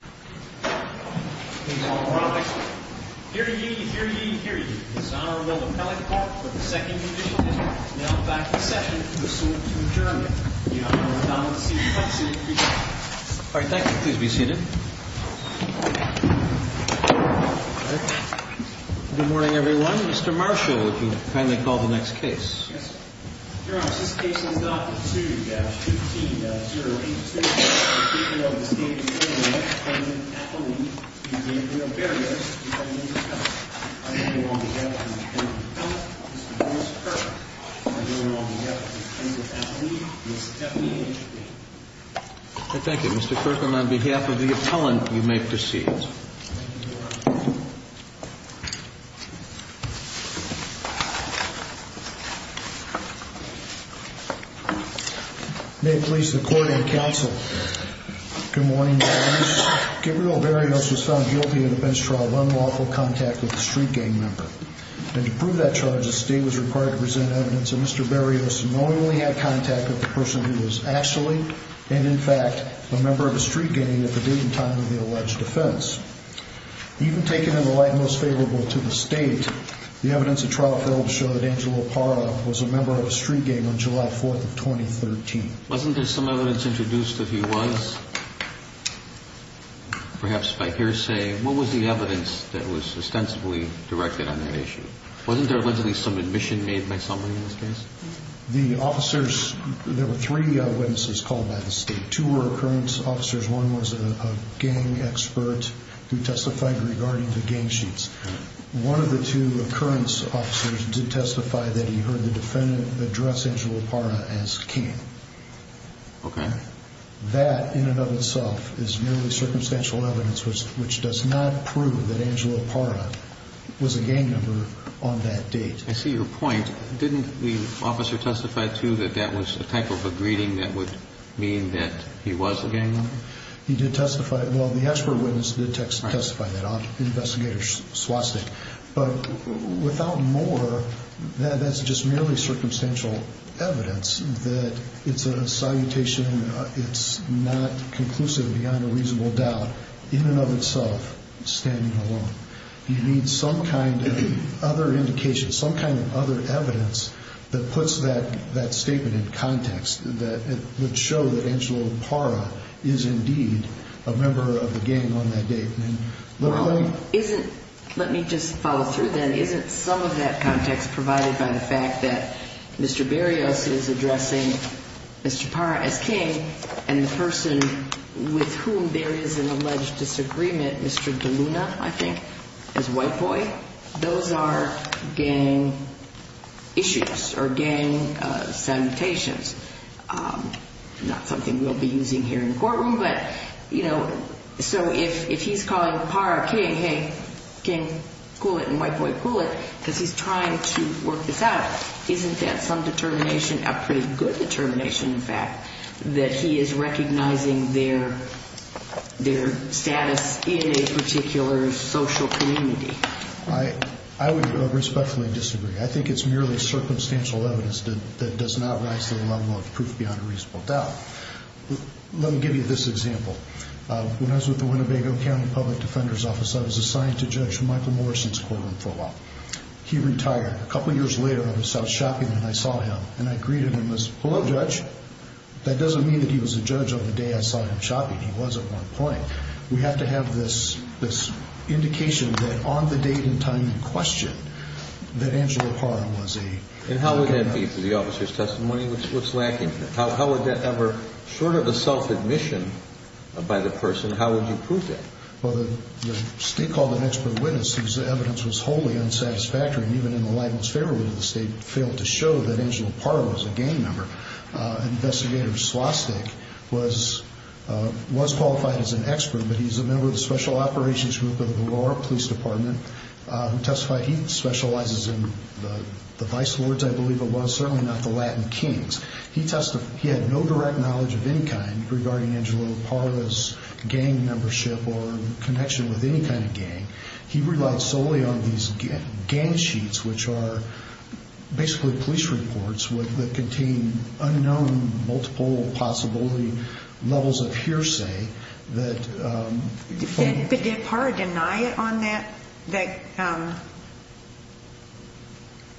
All right. Thank you. Please be seated. Good morning, everyone. Mr. Marshall, if you'd please stand. Thank you. Mr. Kirkland, on behalf of the appellant, you may proceed. Thank you, Your Honor. May it please the court and counsel. Good morning, Your Honor. Gabriel Barrios was found guilty of the bench trial of unlawful contact with a street gang member. And to prove that charge, the state was required to present evidence that Mr. Barrios knowingly had contact with the person who was actually, and in fact, a member of Even taken in the light most favorable to the state, the evidence of trial failed to show that Angelo Parra was a member of a street gang on July 4th of 2013. Wasn't there some evidence introduced that he was? Perhaps by hearsay, what was the evidence that was ostensibly directed on that issue? Wasn't there allegedly some admission made by somebody in this case? The officers, there were three witnesses called by the state. Two were recurrence officers. One was a gang expert who testified regarding the gang sheets. One of the two recurrence officers did testify that he heard the defendant address Angelo Parra as king. Okay. That in and of itself is merely circumstantial evidence, which does not prove that Angelo Parra was a gang member on that date. I see your point. Didn't the officer testify, too, that that was a type of a greeting that would mean that he was a gang member? He did testify. Well, the expert witness did testify that on investigator's swastika. But without more, that's just merely circumstantial evidence that it's a salutation. It's not conclusive beyond a reasonable doubt in and of itself standing alone. You need some kind of other indication, some kind of other evidence that puts that statement in context, that would show that Angelo Parra is, indeed, a member of the gang on that date. Let me just follow through, then. Isn't some of that context provided by the fact that Mr. Berrios is addressing Mr. Parra as king and the person with whom there is an alleged disagreement, Mr. DeLuna, I think, as white boy? Those are gang issues or gang salutations, not something we'll be using here in the courtroom. But, you know, so if he's calling Parra king, hey, king, cool it, and white boy, cool it, because he's trying to work this out, isn't that some determination, a pretty good determination, in fact, that he is recognizing their status in a particular social community? I would respectfully disagree. I don't think it's merely circumstantial evidence that does not rise to the level of proof beyond a reasonable doubt. Let me give you this example. When I was with the Winnebago County Public Defender's Office, I was assigned to Judge Michael Morrison's courtroom for a while. He retired. A couple years later, I was out shopping, and I saw him, and I greeted him as, hello, Judge. That doesn't mean that he was a judge on the day I saw him shopping. He was at one point. We have to have this indication that on the date and time in question that Angelo Parra was a gang member. And how would that be for the officer's testimony? What's lacking? How would that ever, short of a self-admission by the person, how would you prove that? Well, the state called an expert witness whose evidence was wholly unsatisfactory, and even in the libelous favor ruling, the state failed to show that Angelo Parra was a gang member. Investigator Slostak was qualified as an expert, but he's a member of the Special Operations Group of the Galore Police Department, who testified he specializes in the vice lords, I believe it was, certainly not the Latin kings. He testified he had no direct knowledge of any kind regarding Angelo Parra's gang membership or connection with any kind of gang. He relied solely on these gang sheets, which are basically police reports that contain unknown multiple possible gang members, and they're basically levels of hearsay that... But did Parra deny it on that...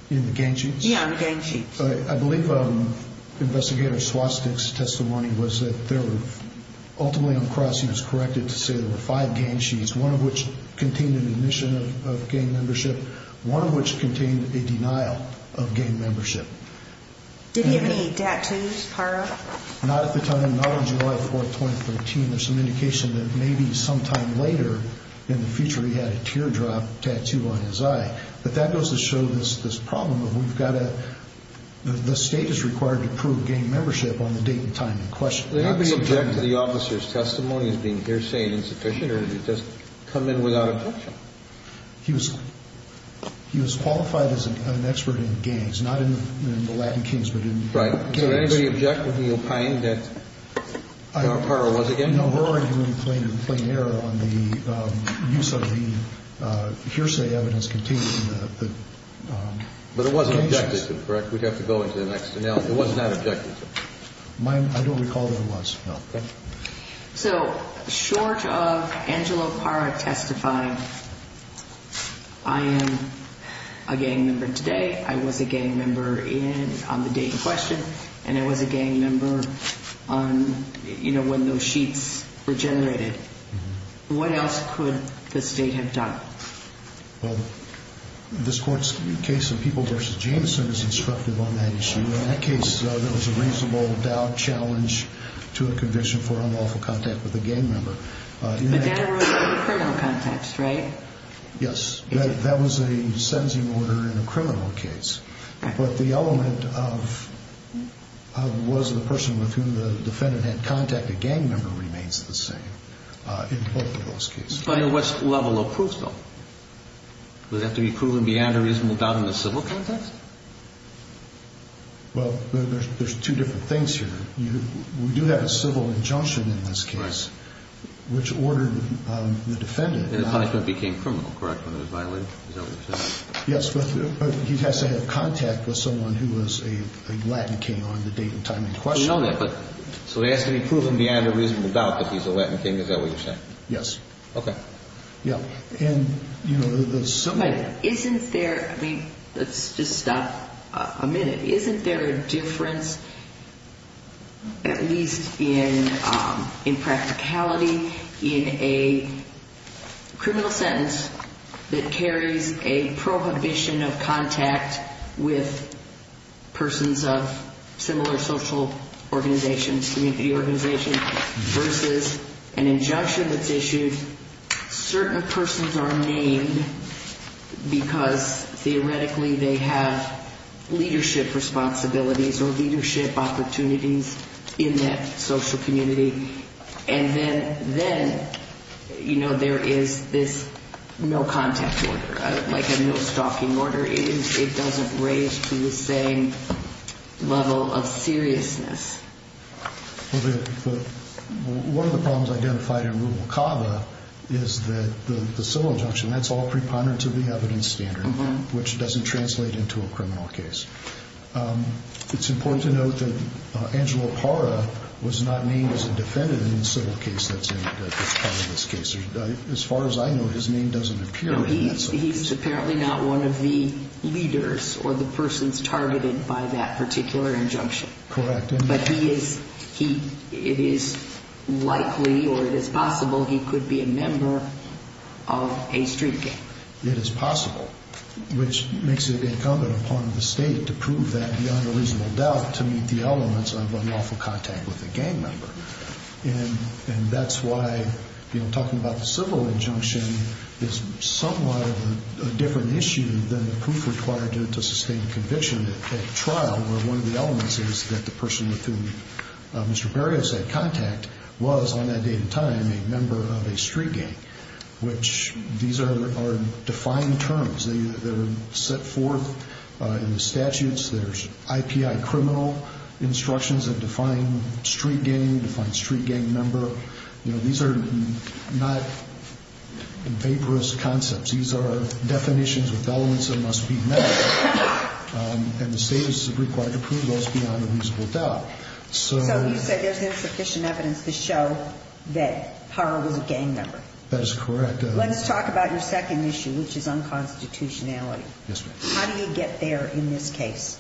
In the gang sheets? Yeah, on the gang sheets. I believe Investigator Slostak's testimony was that there were, ultimately on the cross he was corrected to say there were five gang sheets, one of which contained an admission of gang membership, one of which contained a not on July 4th, 2013. There's some indication that maybe sometime later in the future he had a teardrop tattoo on his eye. But that goes to show this problem of we've got to... The state is required to prove gang membership on the date and time in question. Did anybody object to the officer's testimony as being hearsay insufficient, or did he just come in without objection? He was qualified as an expert in gangs, not in the Latin Kings, but in gangs. Did anybody object when he opined that Parra was a gang member? No, her argument was in plain error on the use of the hearsay evidence contained in the gang sheets. But it wasn't objected to, correct? We'd have to go into the next analysis. It was not objected to. I don't recall that it was. So, short of Angelo Parra testifying, I am a gang member today, I was a gang member on the date in question, and I was a gang member when those sheets were generated. What else could the state have done? Well, this Court's case of People v. Jameson is instructive on that issue. In that case, there was a reasonable doubt challenge to a criminal context, right? Yes. That was a sentencing order in a criminal case. But the element of was the person with whom the defendant had contacted a gang member remains the same in both of those cases. But at what level of proof, though? Would that have to be proven beyond a reasonable doubt in the civil context? Well, there's two different things here. We do have a civil injunction in this case, which ordered the defendant And the punishment became criminal, correct, when it was violated? Is that what you're saying? Yes, but he has to have contact with someone who was a Latin King on the date and time in question. So to ask to be proven beyond a reasonable doubt that he's a Latin King, is that what you're saying? Yes. Okay. Isn't there I mean, let's just stop a minute. Isn't there a difference at least in practicality in a criminal sentence that carries a prohibition of contact with persons of similar social organizations, community organizations, versus an injunction that's issued when certain persons are named because theoretically they have leadership responsibilities or leadership opportunities in that social community? And then, you know, there is this no contact order, like a no stalking order. It doesn't raise to the same level of seriousness. One of the problems identified in Rubalcaba is that the civil injunction, that's all preponderance of the evidence standard, which doesn't translate into a criminal case. It's important to note that Angelo Parra was not named as a defendant in the civil case that's part of this case. As far as I know, his name doesn't appear in that sentence. He's apparently not one of the leaders or the persons targeted by that particular injunction. But it is likely or it is possible he could be a member of a street gang. It is possible, which makes it incumbent upon the state to prove that beyond a reasonable doubt to meet the elements of unlawful contact with a gang member. And that's why, you know, talking about civil injunction is somewhat of a different issue than the proof required to sustain conviction at trial, where one of the elements is that the person with whom Mr. Barrios had contact was, on that date and time, a member of a street gang, which these are defined terms. They're set forth in the statutes. There's IPI criminal instructions that define street gang, define street gang member. You know, these are not vaporous concepts. These are definitions with elements that must be met. And the state is required to prove those beyond a reasonable doubt. So you said there's insufficient evidence to show that Parra was a gang member. That is correct. Let's talk about your second issue, which is unconstitutionality. Yes, ma'am. How do you get there in this case?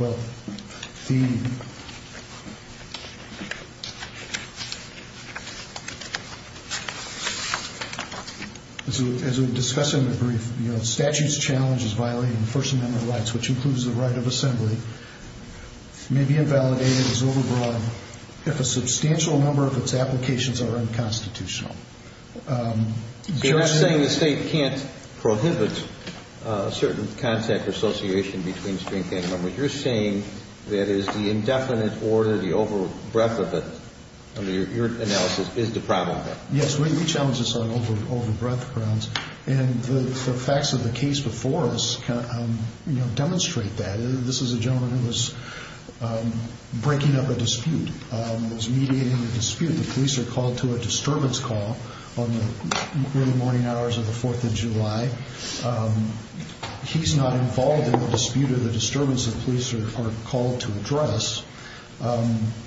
As we discussed in the brief, the statute's challenge is violating First Amendment rights, which includes the right of assembly. It may be invalidated as overbroad if a substantial number of its applications are unconstitutional. You're not saying the state can't prohibit certain contact or association between street gang members. You're saying that it is the indefinite order, the overbreadth of it, under your analysis, is the problem there. Yes, we challenge this on overbreadth grounds. And the facts of the case before us demonstrate that. This is a gentleman who was breaking up a dispute, was mediating a dispute. The police are called to a disturbance call on the early morning hours of the 4th of July. He's not involved in the dispute or the disturbance the police are called to address.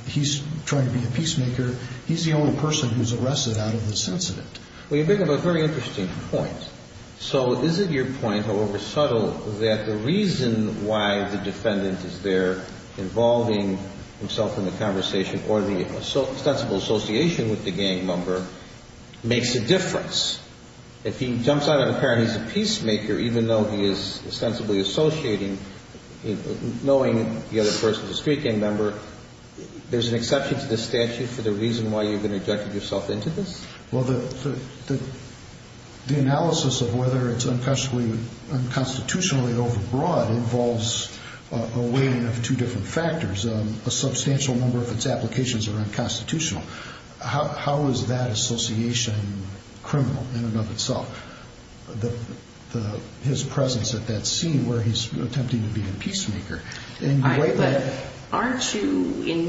He's trying to be a peacemaker. He's the only person who's arrested out of this incident. Well, you bring up a very interesting point. So is it your point, however subtle, that the association with the gang member makes a difference? If he jumps out of the car and he's a peacemaker, even though he is ostensibly associating, knowing the other person's a street gang member, there's an exception to the statute for the reason why you've injected yourself into this? Well, the analysis of whether it's unconstitutionally overbroad involves a weighing of two different factors. A substantial number of its applications are unconstitutional. How is that association criminal in and of itself? His presence at that scene where he's attempting to be a peacemaker. In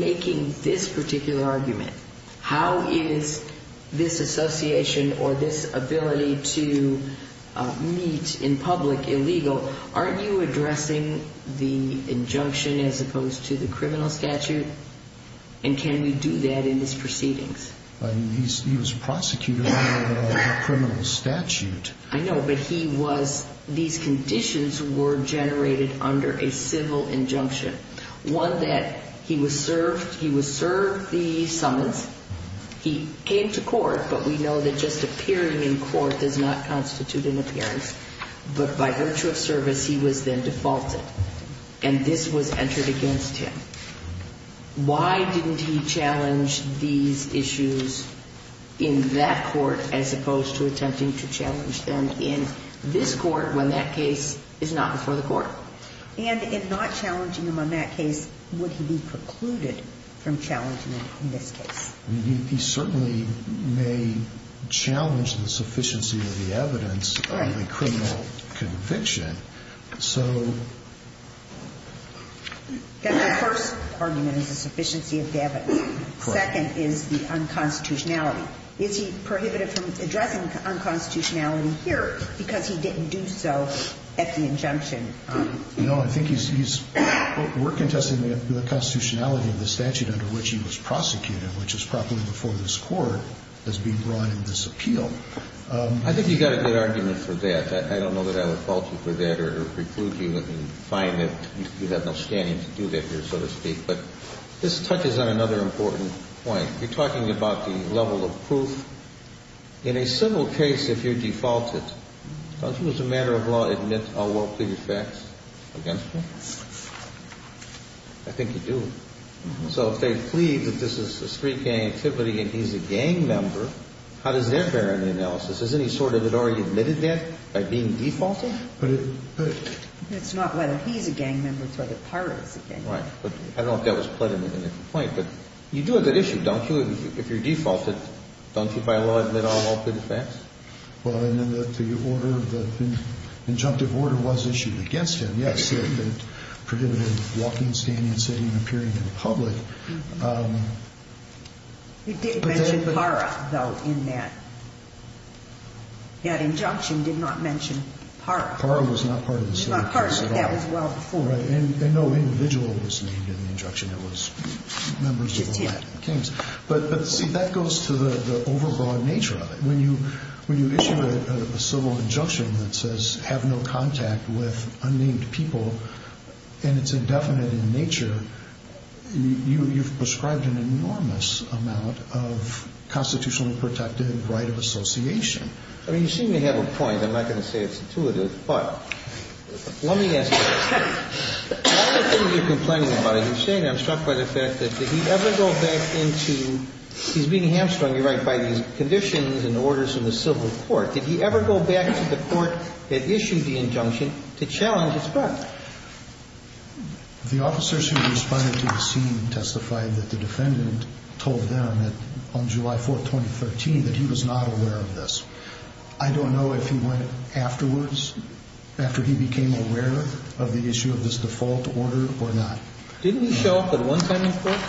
making this particular argument, how is this association or this ability to meet in public illegal, aren't you addressing the injunction as opposed to the criminal statute? And can we do that in his proceedings? He was prosecuted under a criminal statute. I know, but these conditions were generated under a civil injunction. One that he was served the summons, he came to court, but we know that just appearing in court does not constitute an appearance, but by virtue of service he was then defaulted, and this was entered against him. Why didn't he challenge these issues in that court as opposed to attempting to challenge them in this court when that case is not before the court? And if not challenging him on that case, would he be precluded from challenging him in this case? He certainly may challenge the sufficiency of the evidence under the criminal conviction, so the first argument is the sufficiency of the evidence. Second is the unconstitutionality. Is he prohibited from addressing unconstitutionality here because he didn't do so at the injunction? No, I think he's, we're contesting the constitutionality of the statute under which he was prosecuted, which is properly before this court as being brought into this appeal. I think you've got a good argument for that. I don't know that I would fault you for that or preclude you and find that you have no standing to do that here, so to speak. But this touches on another important point. You're talking about the level of proof. In a civil case, if you default it, doesn't the matter of law admit a well-pleaded fact against him? I think you do. So if they plead that this is a street gang activity and he's a gang member, how does that bear in the analysis? Is there any sort of an argument in that by being defaulted? It's not whether he's a gang member, it's whether the pirate is a gang member. Right. But I don't know if that was put in the complaint. But you do have that issue, don't you? If you're defaulted, don't you, by law, admit all well-pleaded facts? Well, and then the order, the injunctive order was issued against him, yes. It prohibited walking, standing, sitting, and appearing in public. You did mention PARA, though, in that. That injunction did not mention PARA. PARA was not part of the statute at all. That was well before. Right. And no individual was named in the injunction. It was members of the Latin Kings. But, see, that goes to the overbroad nature of it. When you issue a civil injunction that says have no contact with unnamed people and it's indefinite in nature, you've prescribed an enormous amount of constitutionally protected right of association. I mean, you seem to have a point. I'm not going to say it's intuitive. But let me ask you this. Not that you're complaining about it. You're saying, I'm struck by the fact that did he ever go back into he's being hamstrung, you're right, by these conditions and orders in the civil court. Did he ever go back to the court that issued the injunction to challenge his part? The officers who responded to the scene testified that the defendant told them that on July 4th, 2013, that he was not aware of this. I don't know if he went afterwards, after he became aware of the issue of this default order or not. Didn't he show up at one time in court?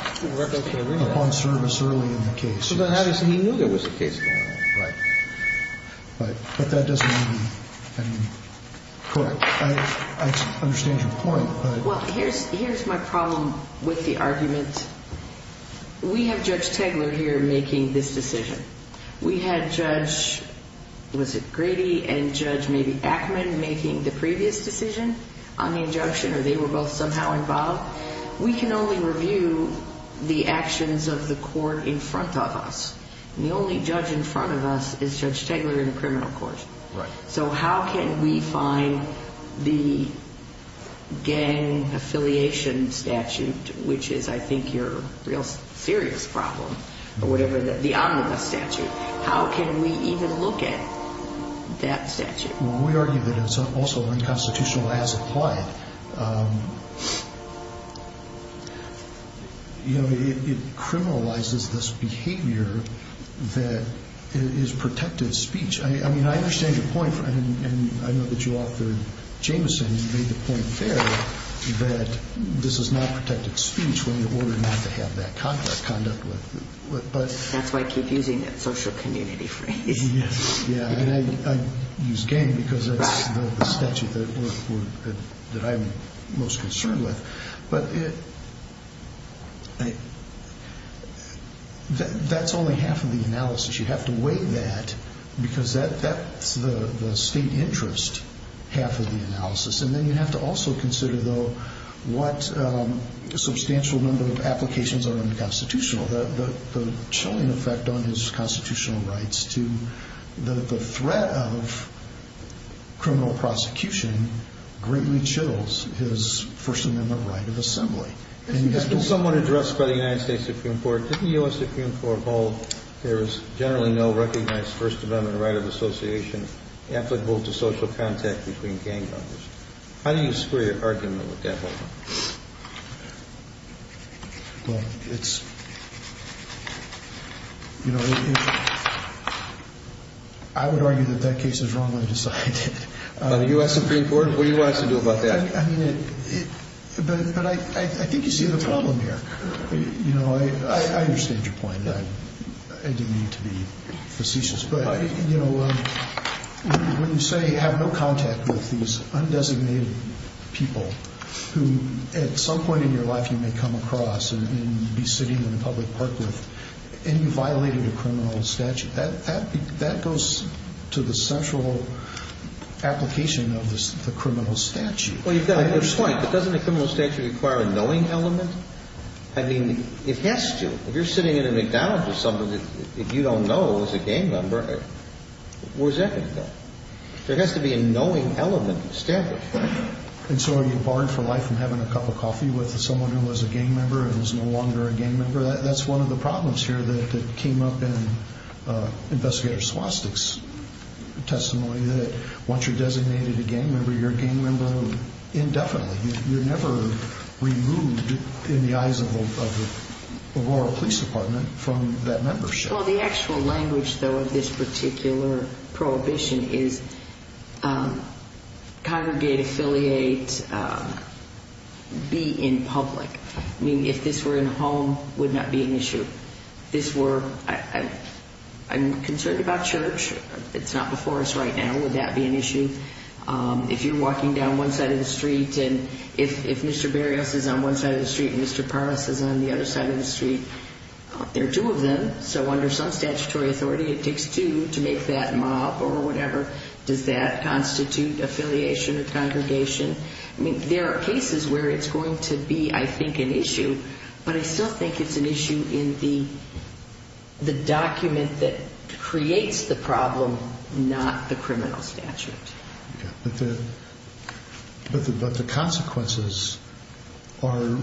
Upon service early in the case. So then obviously he knew there was a case going on. Right. But that doesn't mean he didn't. Correct. I understand your point. Well, here's my problem with the argument. We have Judge Tegeler here making this decision. We had Judge, was it Grady and Judge maybe Ackman making the previous decision on the injunction or they were both somehow involved. We can only review the actions of the court in front of us. And the only judge in front of us is Judge Tegeler in the criminal court. Right. So how can we find the gang affiliation statute, which is I think your real serious problem, or whatever, the omnibus statute. How can we even look at that statute? Well, we argue that it's also unconstitutional as applied. You know, it criminalizes this behavior that is protected speech. I mean, I understand your point. And I know that you offered Jameson made the point there that this is not protected speech when you order not to have that conduct. That's why I keep using that social community phrase. Yeah, and I use gang because that's the statute that I'm most concerned with. But that's only half of the analysis. You have to weigh that because that's the state interest half of the analysis. And then you have to also consider, though, what a substantial number of applications are unconstitutional. The chilling effect on his constitutional rights to the threat of criminal prosecution greatly chills his First Amendment right of assembly. It's been somewhat addressed by the United States Supreme Court. Did the U.S. Supreme Court hold there is generally no recognized First Amendment right of association applicable to social contact between gang members? How do you square your argument with that? Well, it's, you know, I would argue that that case is wrongly decided. By the U.S. Supreme Court? What do you want us to do about that? But I think you see the problem here. You know, I understand your point. I didn't mean to be facetious. But, you know, when you say have no contact with these undesignated people who at some point in your life you may come across and be sitting in a public park with and you violated a criminal statute, that goes to the central application of the criminal statute. Well, you've got a good point. But doesn't a criminal statute require a knowing element? I mean, it has to. If you're sitting at a McDonald's with someone that you don't know is a gang member, where's that going to go? There has to be a knowing element established. And so are you barred for life from having a cup of coffee with someone who was a gang member and is no longer a gang member? That's one of the problems here that came up in Investigator Swastik's testimony, that once you're designated a gang member, you're a gang member indefinitely. You're never removed in the eyes of the rural police department from that membership. Well, the actual language, though, of this particular prohibition is congregate, affiliate, be in public. I mean, if this were in a home, it would not be an issue. This were, I'm concerned about church. It's not before us right now. Would that be an issue? If you're walking down one side of the street and if Mr. Barrios is on one side of the street and Mr. Parvas is on the other side of the street, there are two of them. So under some statutory authority, it takes two to make that mob or whatever. Does that constitute affiliation or congregation? I mean, there are cases where it's going to be, I think, an issue, but I still think it's an issue in the document that creates the problem, not the criminal statute. But the consequences are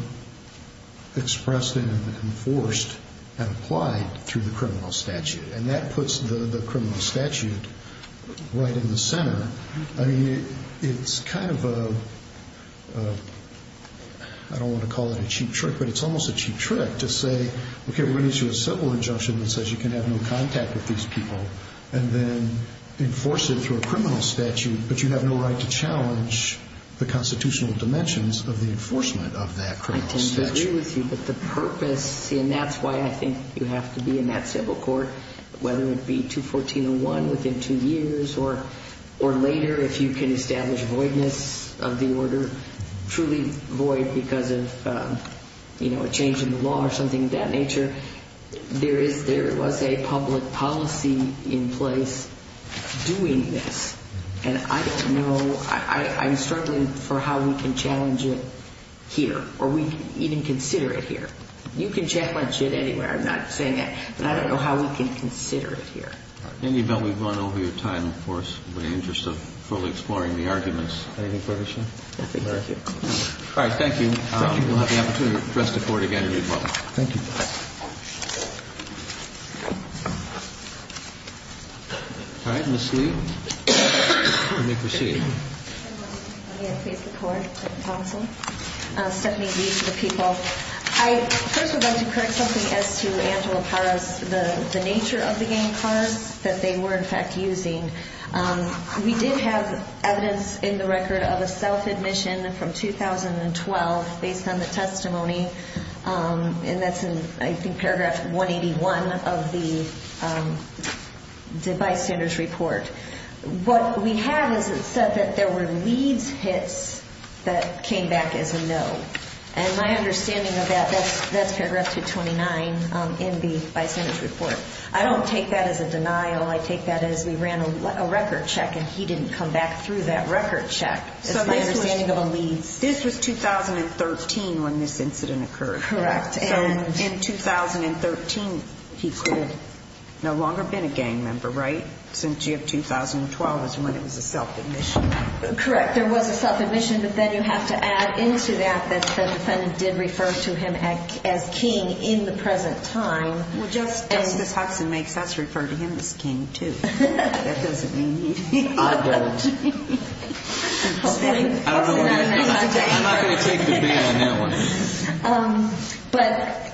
expressed and enforced and applied through the criminal statute, and that puts the criminal statute right in the center. I mean, it's kind of a, I don't want to call it a cheap trick, but it's almost a cheap trick to say, okay, we're going to issue a civil injunction that says you can have no contact with these people and then enforce it through a criminal statute, but you have no right to challenge the constitutional dimensions of the enforcement of that criminal statute. I tend to agree with you, but the purpose, and that's why I think you have to be in that civil court, whether it be 214.01 within two years or later if you can establish voidness of the order, truly void because of a change in the law or something of that nature. There was a public policy in place doing this, and I don't know. I'm struggling for how we can challenge it here or we can even consider it here. You can challenge it anywhere. I'm not saying that. But I don't know how we can consider it here. All right. Andy, I bet we've run over your time, of course, in the interest of fully exploring the arguments. Anything further, Chief? Nothing. Thank you. All right. Thank you. Thank you. We'll have the opportunity to address the Court again in due course. Thank you. All right. Ms. Lee, you may proceed. May I please report to counsel? Stephanie Lee to the people. I first would like to correct something as to Angela Parra's, the nature of the game cards that they were, in fact, using. We did have evidence in the record of a self-admission from 2012 based on the testimony, and that's in, I think, paragraph 181 of the device standards report. What we have is it said that there were leads hits that came back as a no. And my understanding of that, that's paragraph 229 in the device standards report. I don't take that as a denial. I take that as we ran a record check, and he didn't come back through that record check. That's my understanding of a lead. This was 2013 when this incident occurred. Correct. And in 2013, he could have no longer been a gang member, right, since you have 2012 is when it was a self-admission. Correct. There was a self-admission, but then you have to add into that that the defendant did refer to him as king in the present time. Well, Justice Hudson makes us refer to him as king, too. I'm not going to take the bail on that one. But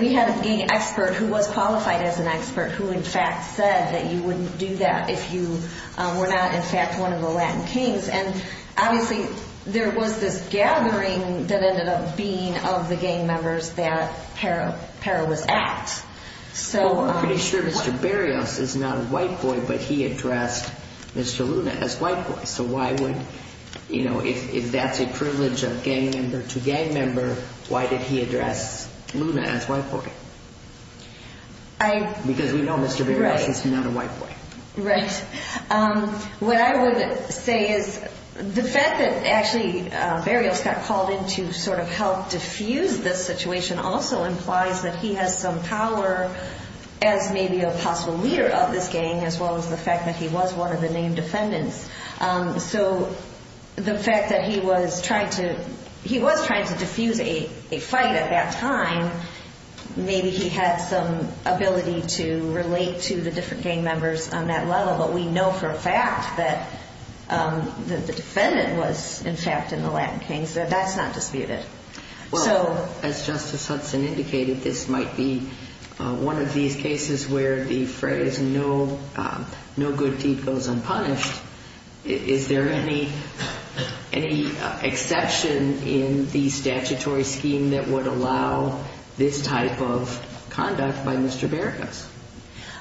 we had a gang expert who was qualified as an expert who, in fact, said that you wouldn't do that if you were not, in fact, one of the Latin kings. And, obviously, there was this gathering that ended up being of the gang members that Pera was at. I'm pretty sure Mr. Berrios is not a white boy, but he addressed Mr. Luna as white boy. So why would, you know, if that's a privilege of gang member to gang member, why did he address Luna as white boy? Because we know Mr. Berrios is not a white boy. Right. What I would say is the fact that actually Berrios got called in to sort of help diffuse this situation also implies that he has some power as maybe a possible leader of this gang, as well as the fact that he was one of the named defendants. So the fact that he was trying to diffuse a fight at that time, maybe he had some ability to relate to the different gang members on that level. But we know for a fact that the defendant was, in fact, in the Latin kings. That's not disputed. As Justice Hudson indicated, this might be one of these cases where the phrase no good deed goes unpunished. Is there any exception in the statutory scheme that would allow this type of conduct by Mr. Berrios?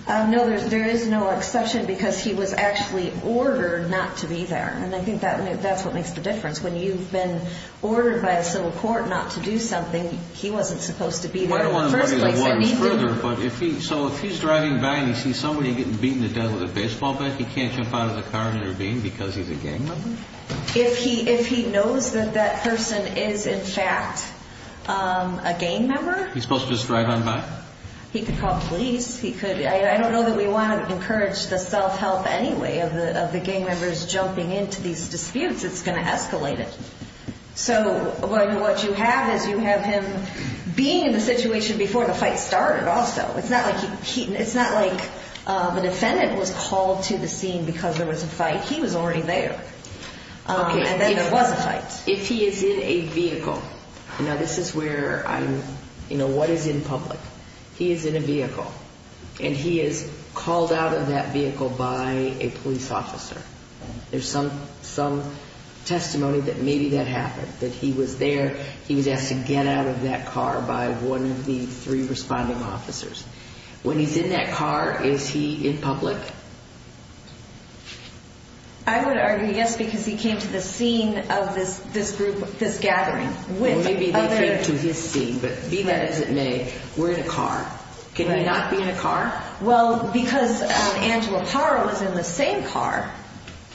No, there is no exception because he was actually ordered not to be there. And I think that's what makes the difference. When you've been ordered by a civil court not to do something, he wasn't supposed to be there in the first place. So if he's driving by and he sees somebody getting beaten to death with a baseball bat, he can't jump out of the car and intervene because he's a gang member? If he knows that that person is, in fact, a gang member. He's supposed to just drive on by? He could call police. I don't know that we want to encourage the self-help anyway of the gang members jumping into these disputes. It's going to escalate it. So what you have is you have him being in the situation before the fight started also. It's not like the defendant was called to the scene because there was a fight. He was already there. And then there was a fight. If he is in a vehicle, now this is where I'm, you know, what is in public? He is in a vehicle and he is called out of that vehicle by a police officer. There's some testimony that maybe that happened, that he was there. He was asked to get out of that car by one of the three responding officers. When he's in that car, is he in public? I would argue yes because he came to the scene of this group, this gathering. Well, maybe they came to his scene, but be that as it may, we're in a car. Can he not be in a car? Well, because Angela Parra was in the same car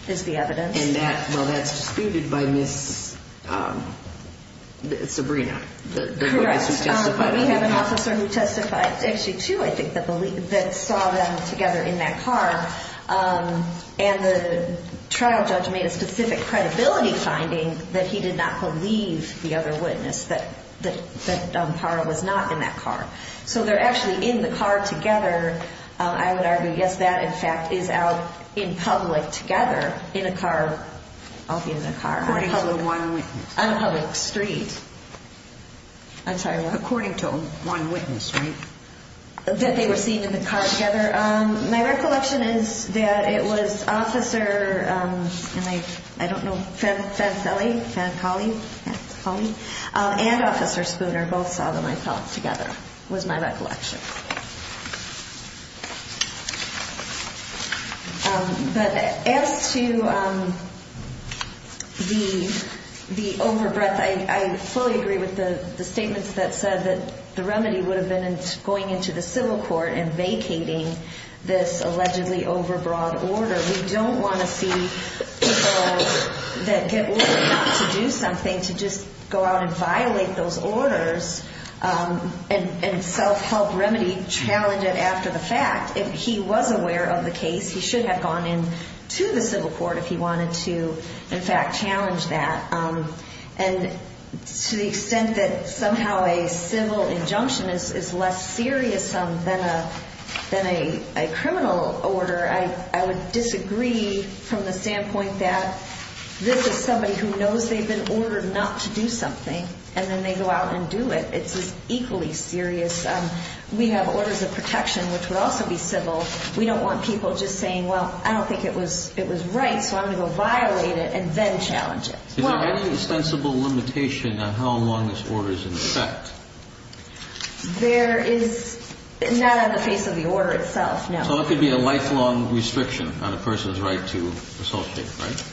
is the evidence. And that, well, that's disputed by Ms. Sabrina, the witness who testified. Correct. We have an officer who testified, actually two, I think, that saw them together in that car. And the trial judge made a specific credibility finding that he did not believe the other witness, that Parra was not in that car. So they're actually in the car together. I would argue, yes, that, in fact, is out in public together in a car. I'll be in the car. According to one witness. On a public street. I'm sorry, what? According to one witness, right? That they were seen in the car together. My recollection is that it was officer, and I don't know, Fed Foley and Officer Spooner both saw them, I thought, together was my recollection. But as to the overbreath, I fully agree with the statements that said that the remedy would have been going into the civil court and vacating this allegedly overbroad order. We don't want to see people that get ordered not to do something to just go out and violate those orders and self-help remedy, challenge it after the fact. If he was aware of the case, he should have gone in to the civil court if he wanted to, in fact, challenge that. And to the extent that somehow a civil injunction is less serious than a criminal order, I would disagree from the standpoint that this is somebody who knows they've been ordered not to do something, and then they go out and do it. It's equally serious. We have orders of protection, which would also be civil. We don't want people just saying, well, I don't think it was right, so I'm going to go violate it and then challenge it. Is there any sensible limitation on how long this order is in effect? There is not on the face of the order itself, no. So it could be a lifelong restriction on a person's right to associate, right?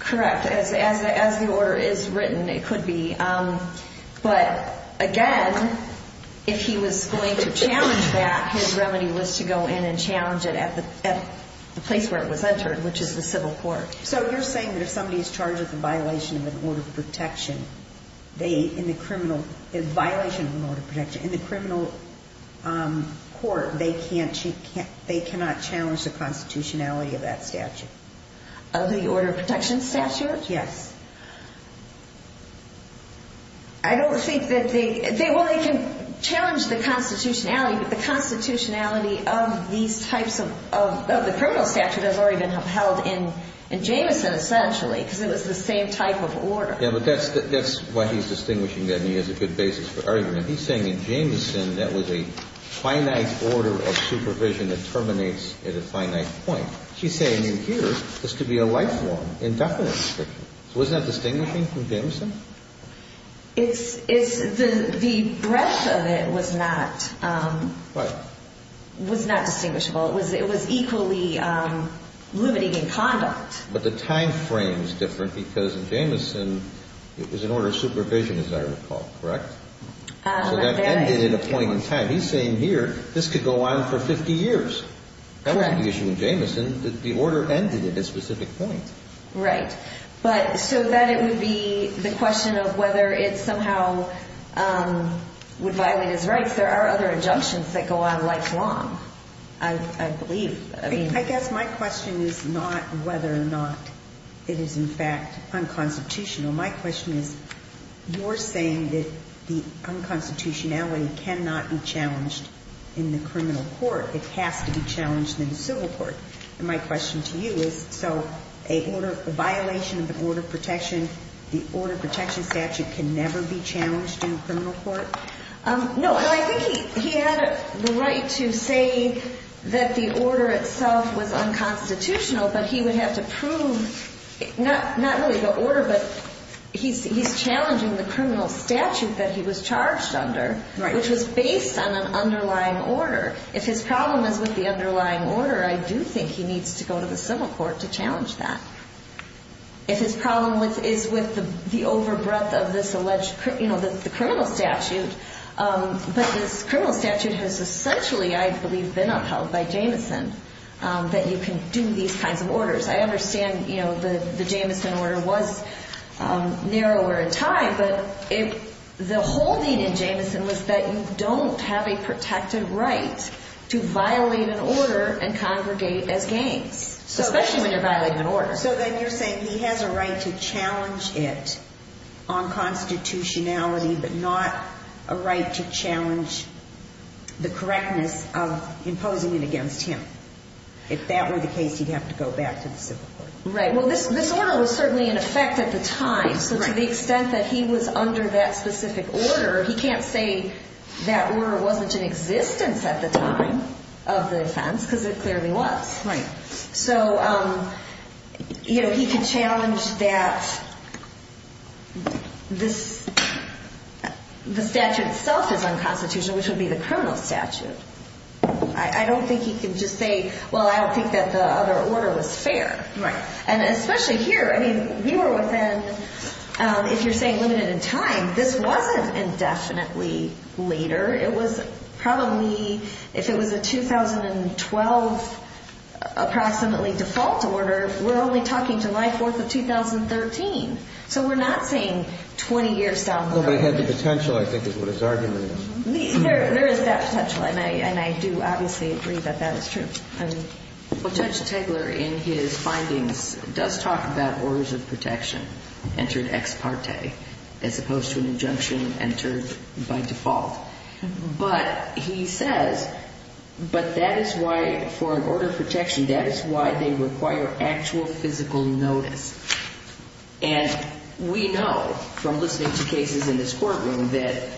Correct. As the order is written, it could be. But again, if he was going to challenge that, his remedy was to go in and challenge it at the place where it was entered, which is the civil court. So you're saying that if somebody is charged with a violation of an order of protection, in the criminal court, they cannot challenge the constitutionality of that statute? Of the order of protection statute? Yes. I don't think that they – well, they can challenge the constitutionality, but the constitutionality of these types of the criminal statute has already been upheld in Jameson, essentially, because it was the same type of order. Yeah, but that's why he's distinguishing that, and he has a good basis for arguing it. He's saying in Jameson, that was a finite order of supervision that terminates at a finite point. He's saying in here, this could be a lifelong, indefinite restriction. So isn't that distinguishing from Jameson? It's – the breadth of it was not – What? Was not distinguishable. It was equally limiting in conduct. But the timeframe is different, because in Jameson, it was an order of supervision, as I recall. Correct? So that ended at a point in time. He's saying here, this could go on for 50 years. Correct. That wasn't the issue in Jameson. The order ended at a specific point. Right. But so then it would be the question of whether it somehow would violate his rights. There are other injunctions that go on lifelong, I believe. I guess my question is not whether or not it is, in fact, unconstitutional. My question is, you're saying that the unconstitutionality cannot be challenged in the criminal court. It has to be challenged in the civil court. And my question to you is, so a violation of an order of protection, the order of protection statute can never be challenged in a criminal court? No. Well, I think he had the right to say that the order itself was unconstitutional, but he would have to prove not really the order, but he's challenging the criminal statute that he was charged under. Right. Which was based on an underlying order. If his problem is with the underlying order, I do think he needs to go to the civil court to challenge that. If his problem is with the over-breath of this alleged criminal statute, but this criminal statute has essentially, I believe, been upheld by Jameson, that you can do these kinds of orders. I understand the Jameson order was narrower in time, but the whole need in Jameson was that you don't have a protected right to violate an order and congregate as gangs, especially when you're violating an order. So then you're saying he has a right to challenge it on constitutionality, but not a right to challenge the correctness of imposing it against him. If that were the case, he'd have to go back to the civil court. Right. Well, this order was certainly in effect at the time. So to the extent that he was under that specific order, he can't say that order wasn't in existence at the time of the offense, because it clearly was. Right. So he could challenge that the statute itself is unconstitutional, which would be the criminal statute. I don't think he could just say, well, I don't think that the other order was fair. Right. And especially here. I mean, we were within, if you're saying limited in time, this wasn't indefinitely later. It was probably, if it was a 2012 approximately default order, we're only talking July 4th of 2013. So we're not saying 20 years down the road. But it had the potential, I think, is what his argument is. There is that potential, and I do obviously agree that that is true. Well, Judge Tegeler in his findings does talk about orders of protection entered ex parte, as opposed to an injunction entered by default. But he says, but that is why for an order of protection, that is why they require actual physical notice. And we know from listening to cases in this courtroom that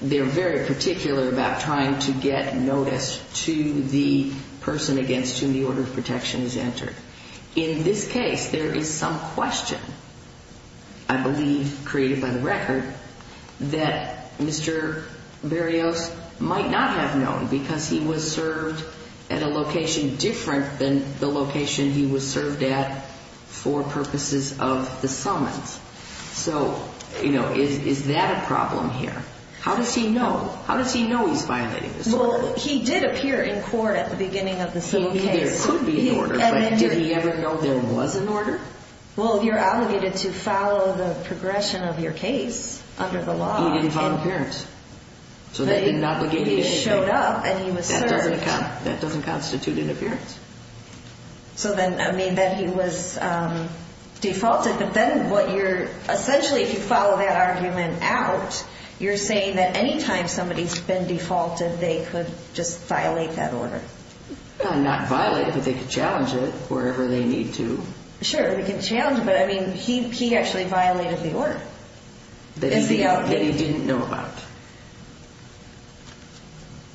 they're very particular about trying to get notice to the person against whom the order of protection is entered. In this case, there is some question, I believe created by the record, that Mr. Berrios might not have known because he was served at a location different than the location he was served at for purposes of the summons. So, you know, is that a problem here? How does he know? How does he know he's violating this order? Well, he did appear in court at the beginning of the same case. So he knew there could be an order, but did he ever know there was an order? Well, you're obligated to follow the progression of your case under the law. He didn't follow appearance. So he showed up and he was served. That doesn't constitute an appearance. So then, I mean, then he was defaulted. But then what you're, essentially, if you follow that argument out, you're saying that any time somebody's been defaulted, they could just violate that order. Not violate, but they could challenge it wherever they need to. Sure, they could challenge it. But, I mean, he actually violated the order. That he didn't know about.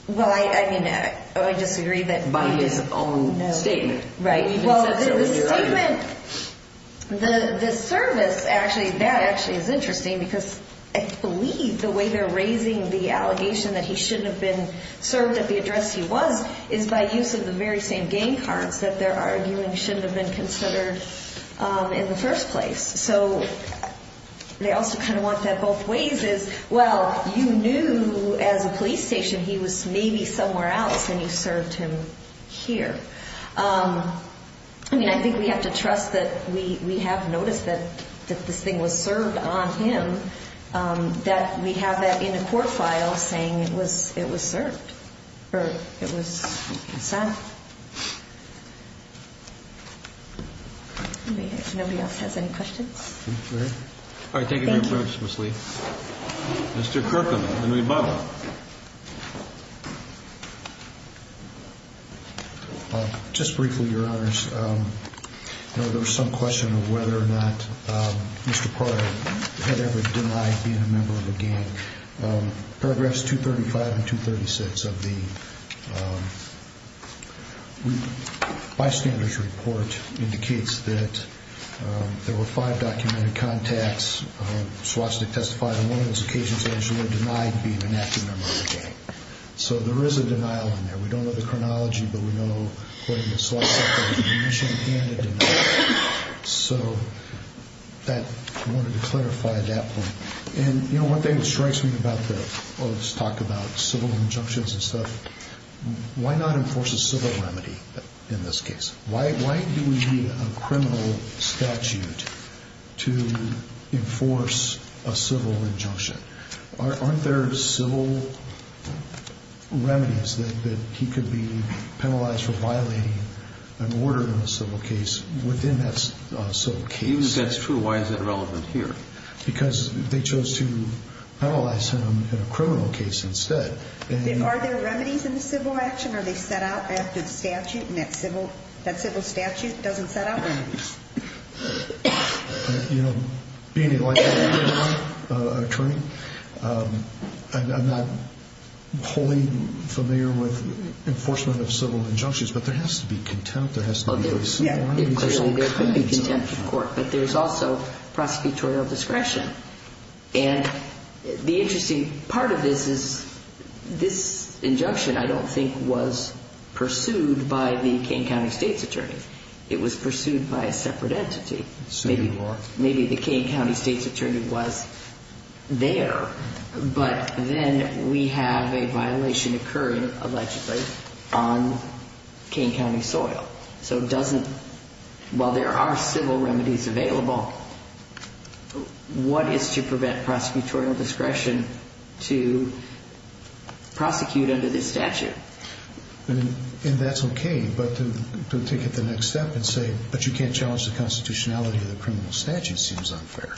Well, I mean, I disagree that. By his own statement. Right. Well, the statement, the service, actually, that actually is interesting because I believe the way they're raising the allegation that he shouldn't have been served at the address he was is by use of the very same game cards that they're arguing shouldn't have been considered in the first place. So they also kind of want that both ways is, well, you knew as a police station he was maybe somewhere else and you served him here. I mean, I think we have to trust that we have noticed that this thing was served on him, that we have that in a court file saying it was served or it was sent. Nobody else has any questions? All right. Thank you very much, Ms. Lee. Thank you. Mr. Kirkham. Henry Bobbitt. Just briefly, Your Honors. There was some question of whether or not Mr. Prior had ever denied being a member of a gang. Paragraphs 235 and 236 of the bystander's report indicates that there were five documented contacts. Swastik testified on one of those occasions that he was denied being an active member of a gang. So there is a denial in there. We don't know the chronology, but we know, according to Swastik, there was an admission and a denial. So I wanted to clarify that point. And, you know, one thing that strikes me about the – let's talk about civil injunctions and stuff. Why not enforce a civil remedy in this case? Why do we need a criminal statute to enforce a civil injunction? Aren't there civil remedies that he could be penalized for violating an order in a civil case within that civil case? If that's true, why is that relevant here? Because they chose to penalize him in a criminal case instead. Are there remedies in the civil action? Are they set out after the statute and that civil statute doesn't set out remedies? You know, being a law enforcement attorney, I'm not wholly familiar with enforcement of civil injunctions, but there has to be contempt. There has to be civil remedies. There could be contempt in court, but there's also prosecutorial discretion. And the interesting part of this is this injunction I don't think was pursued by the Kane County State's attorney. It was pursued by a separate entity. Maybe the Kane County State's attorney was there, but then we have a violation occurring allegedly on Kane County soil. So while there are civil remedies available, what is to prevent prosecutorial discretion to prosecute under this statute? And that's okay, but to take it the next step and say, but you can't challenge the constitutionality of the criminal statute seems unfair.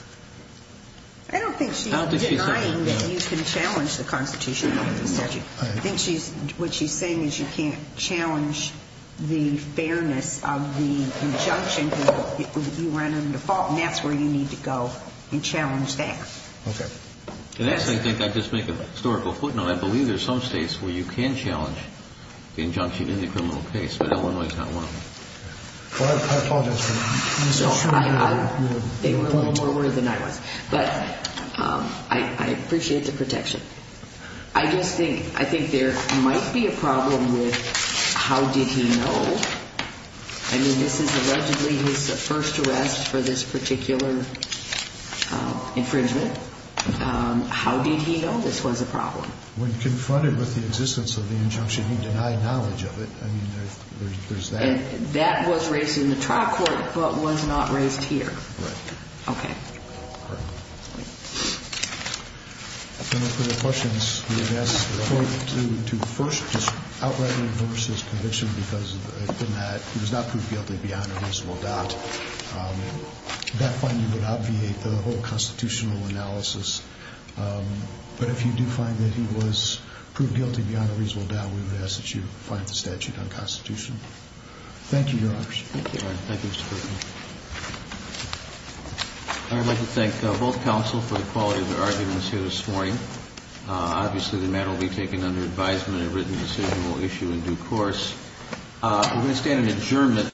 I don't think she's denying that you can challenge the constitutionality of the statute. I think what she's saying is you can't challenge the fairness of the injunction you ran under the default, and that's where you need to go and challenge that. Okay. And that's, I think, I just make a historical footnote. I believe there's some states where you can challenge the injunction in the criminal case, but Illinois is not one of them. I apologize for that. They were a little more worried than I was. But I appreciate the protection. I just think there might be a problem with how did he know? I mean, this is allegedly his first arrest for this particular infringement. How did he know this was a problem? When confronted with the existence of the injunction, he denied knowledge of it. I mean, there's that. That was raised in the trial court, but was not raised here. Right. Okay. If there are no further questions, we would ask the court to first just outright reverse his conviction, because if it had been that he was not proved guilty beyond a reasonable doubt, that finding would obviate the whole constitutional analysis. But if you do find that he was proved guilty beyond a reasonable doubt, we would ask that you find the statute unconstitutional. Thank you, Your Honors. Thank you. Thank you, Mr. Griffin. I would like to thank both counsel for the quality of their arguments here this morning. Obviously, the matter will be taken under advisement. A written decision will issue in due course. We're going to stand in adjournment.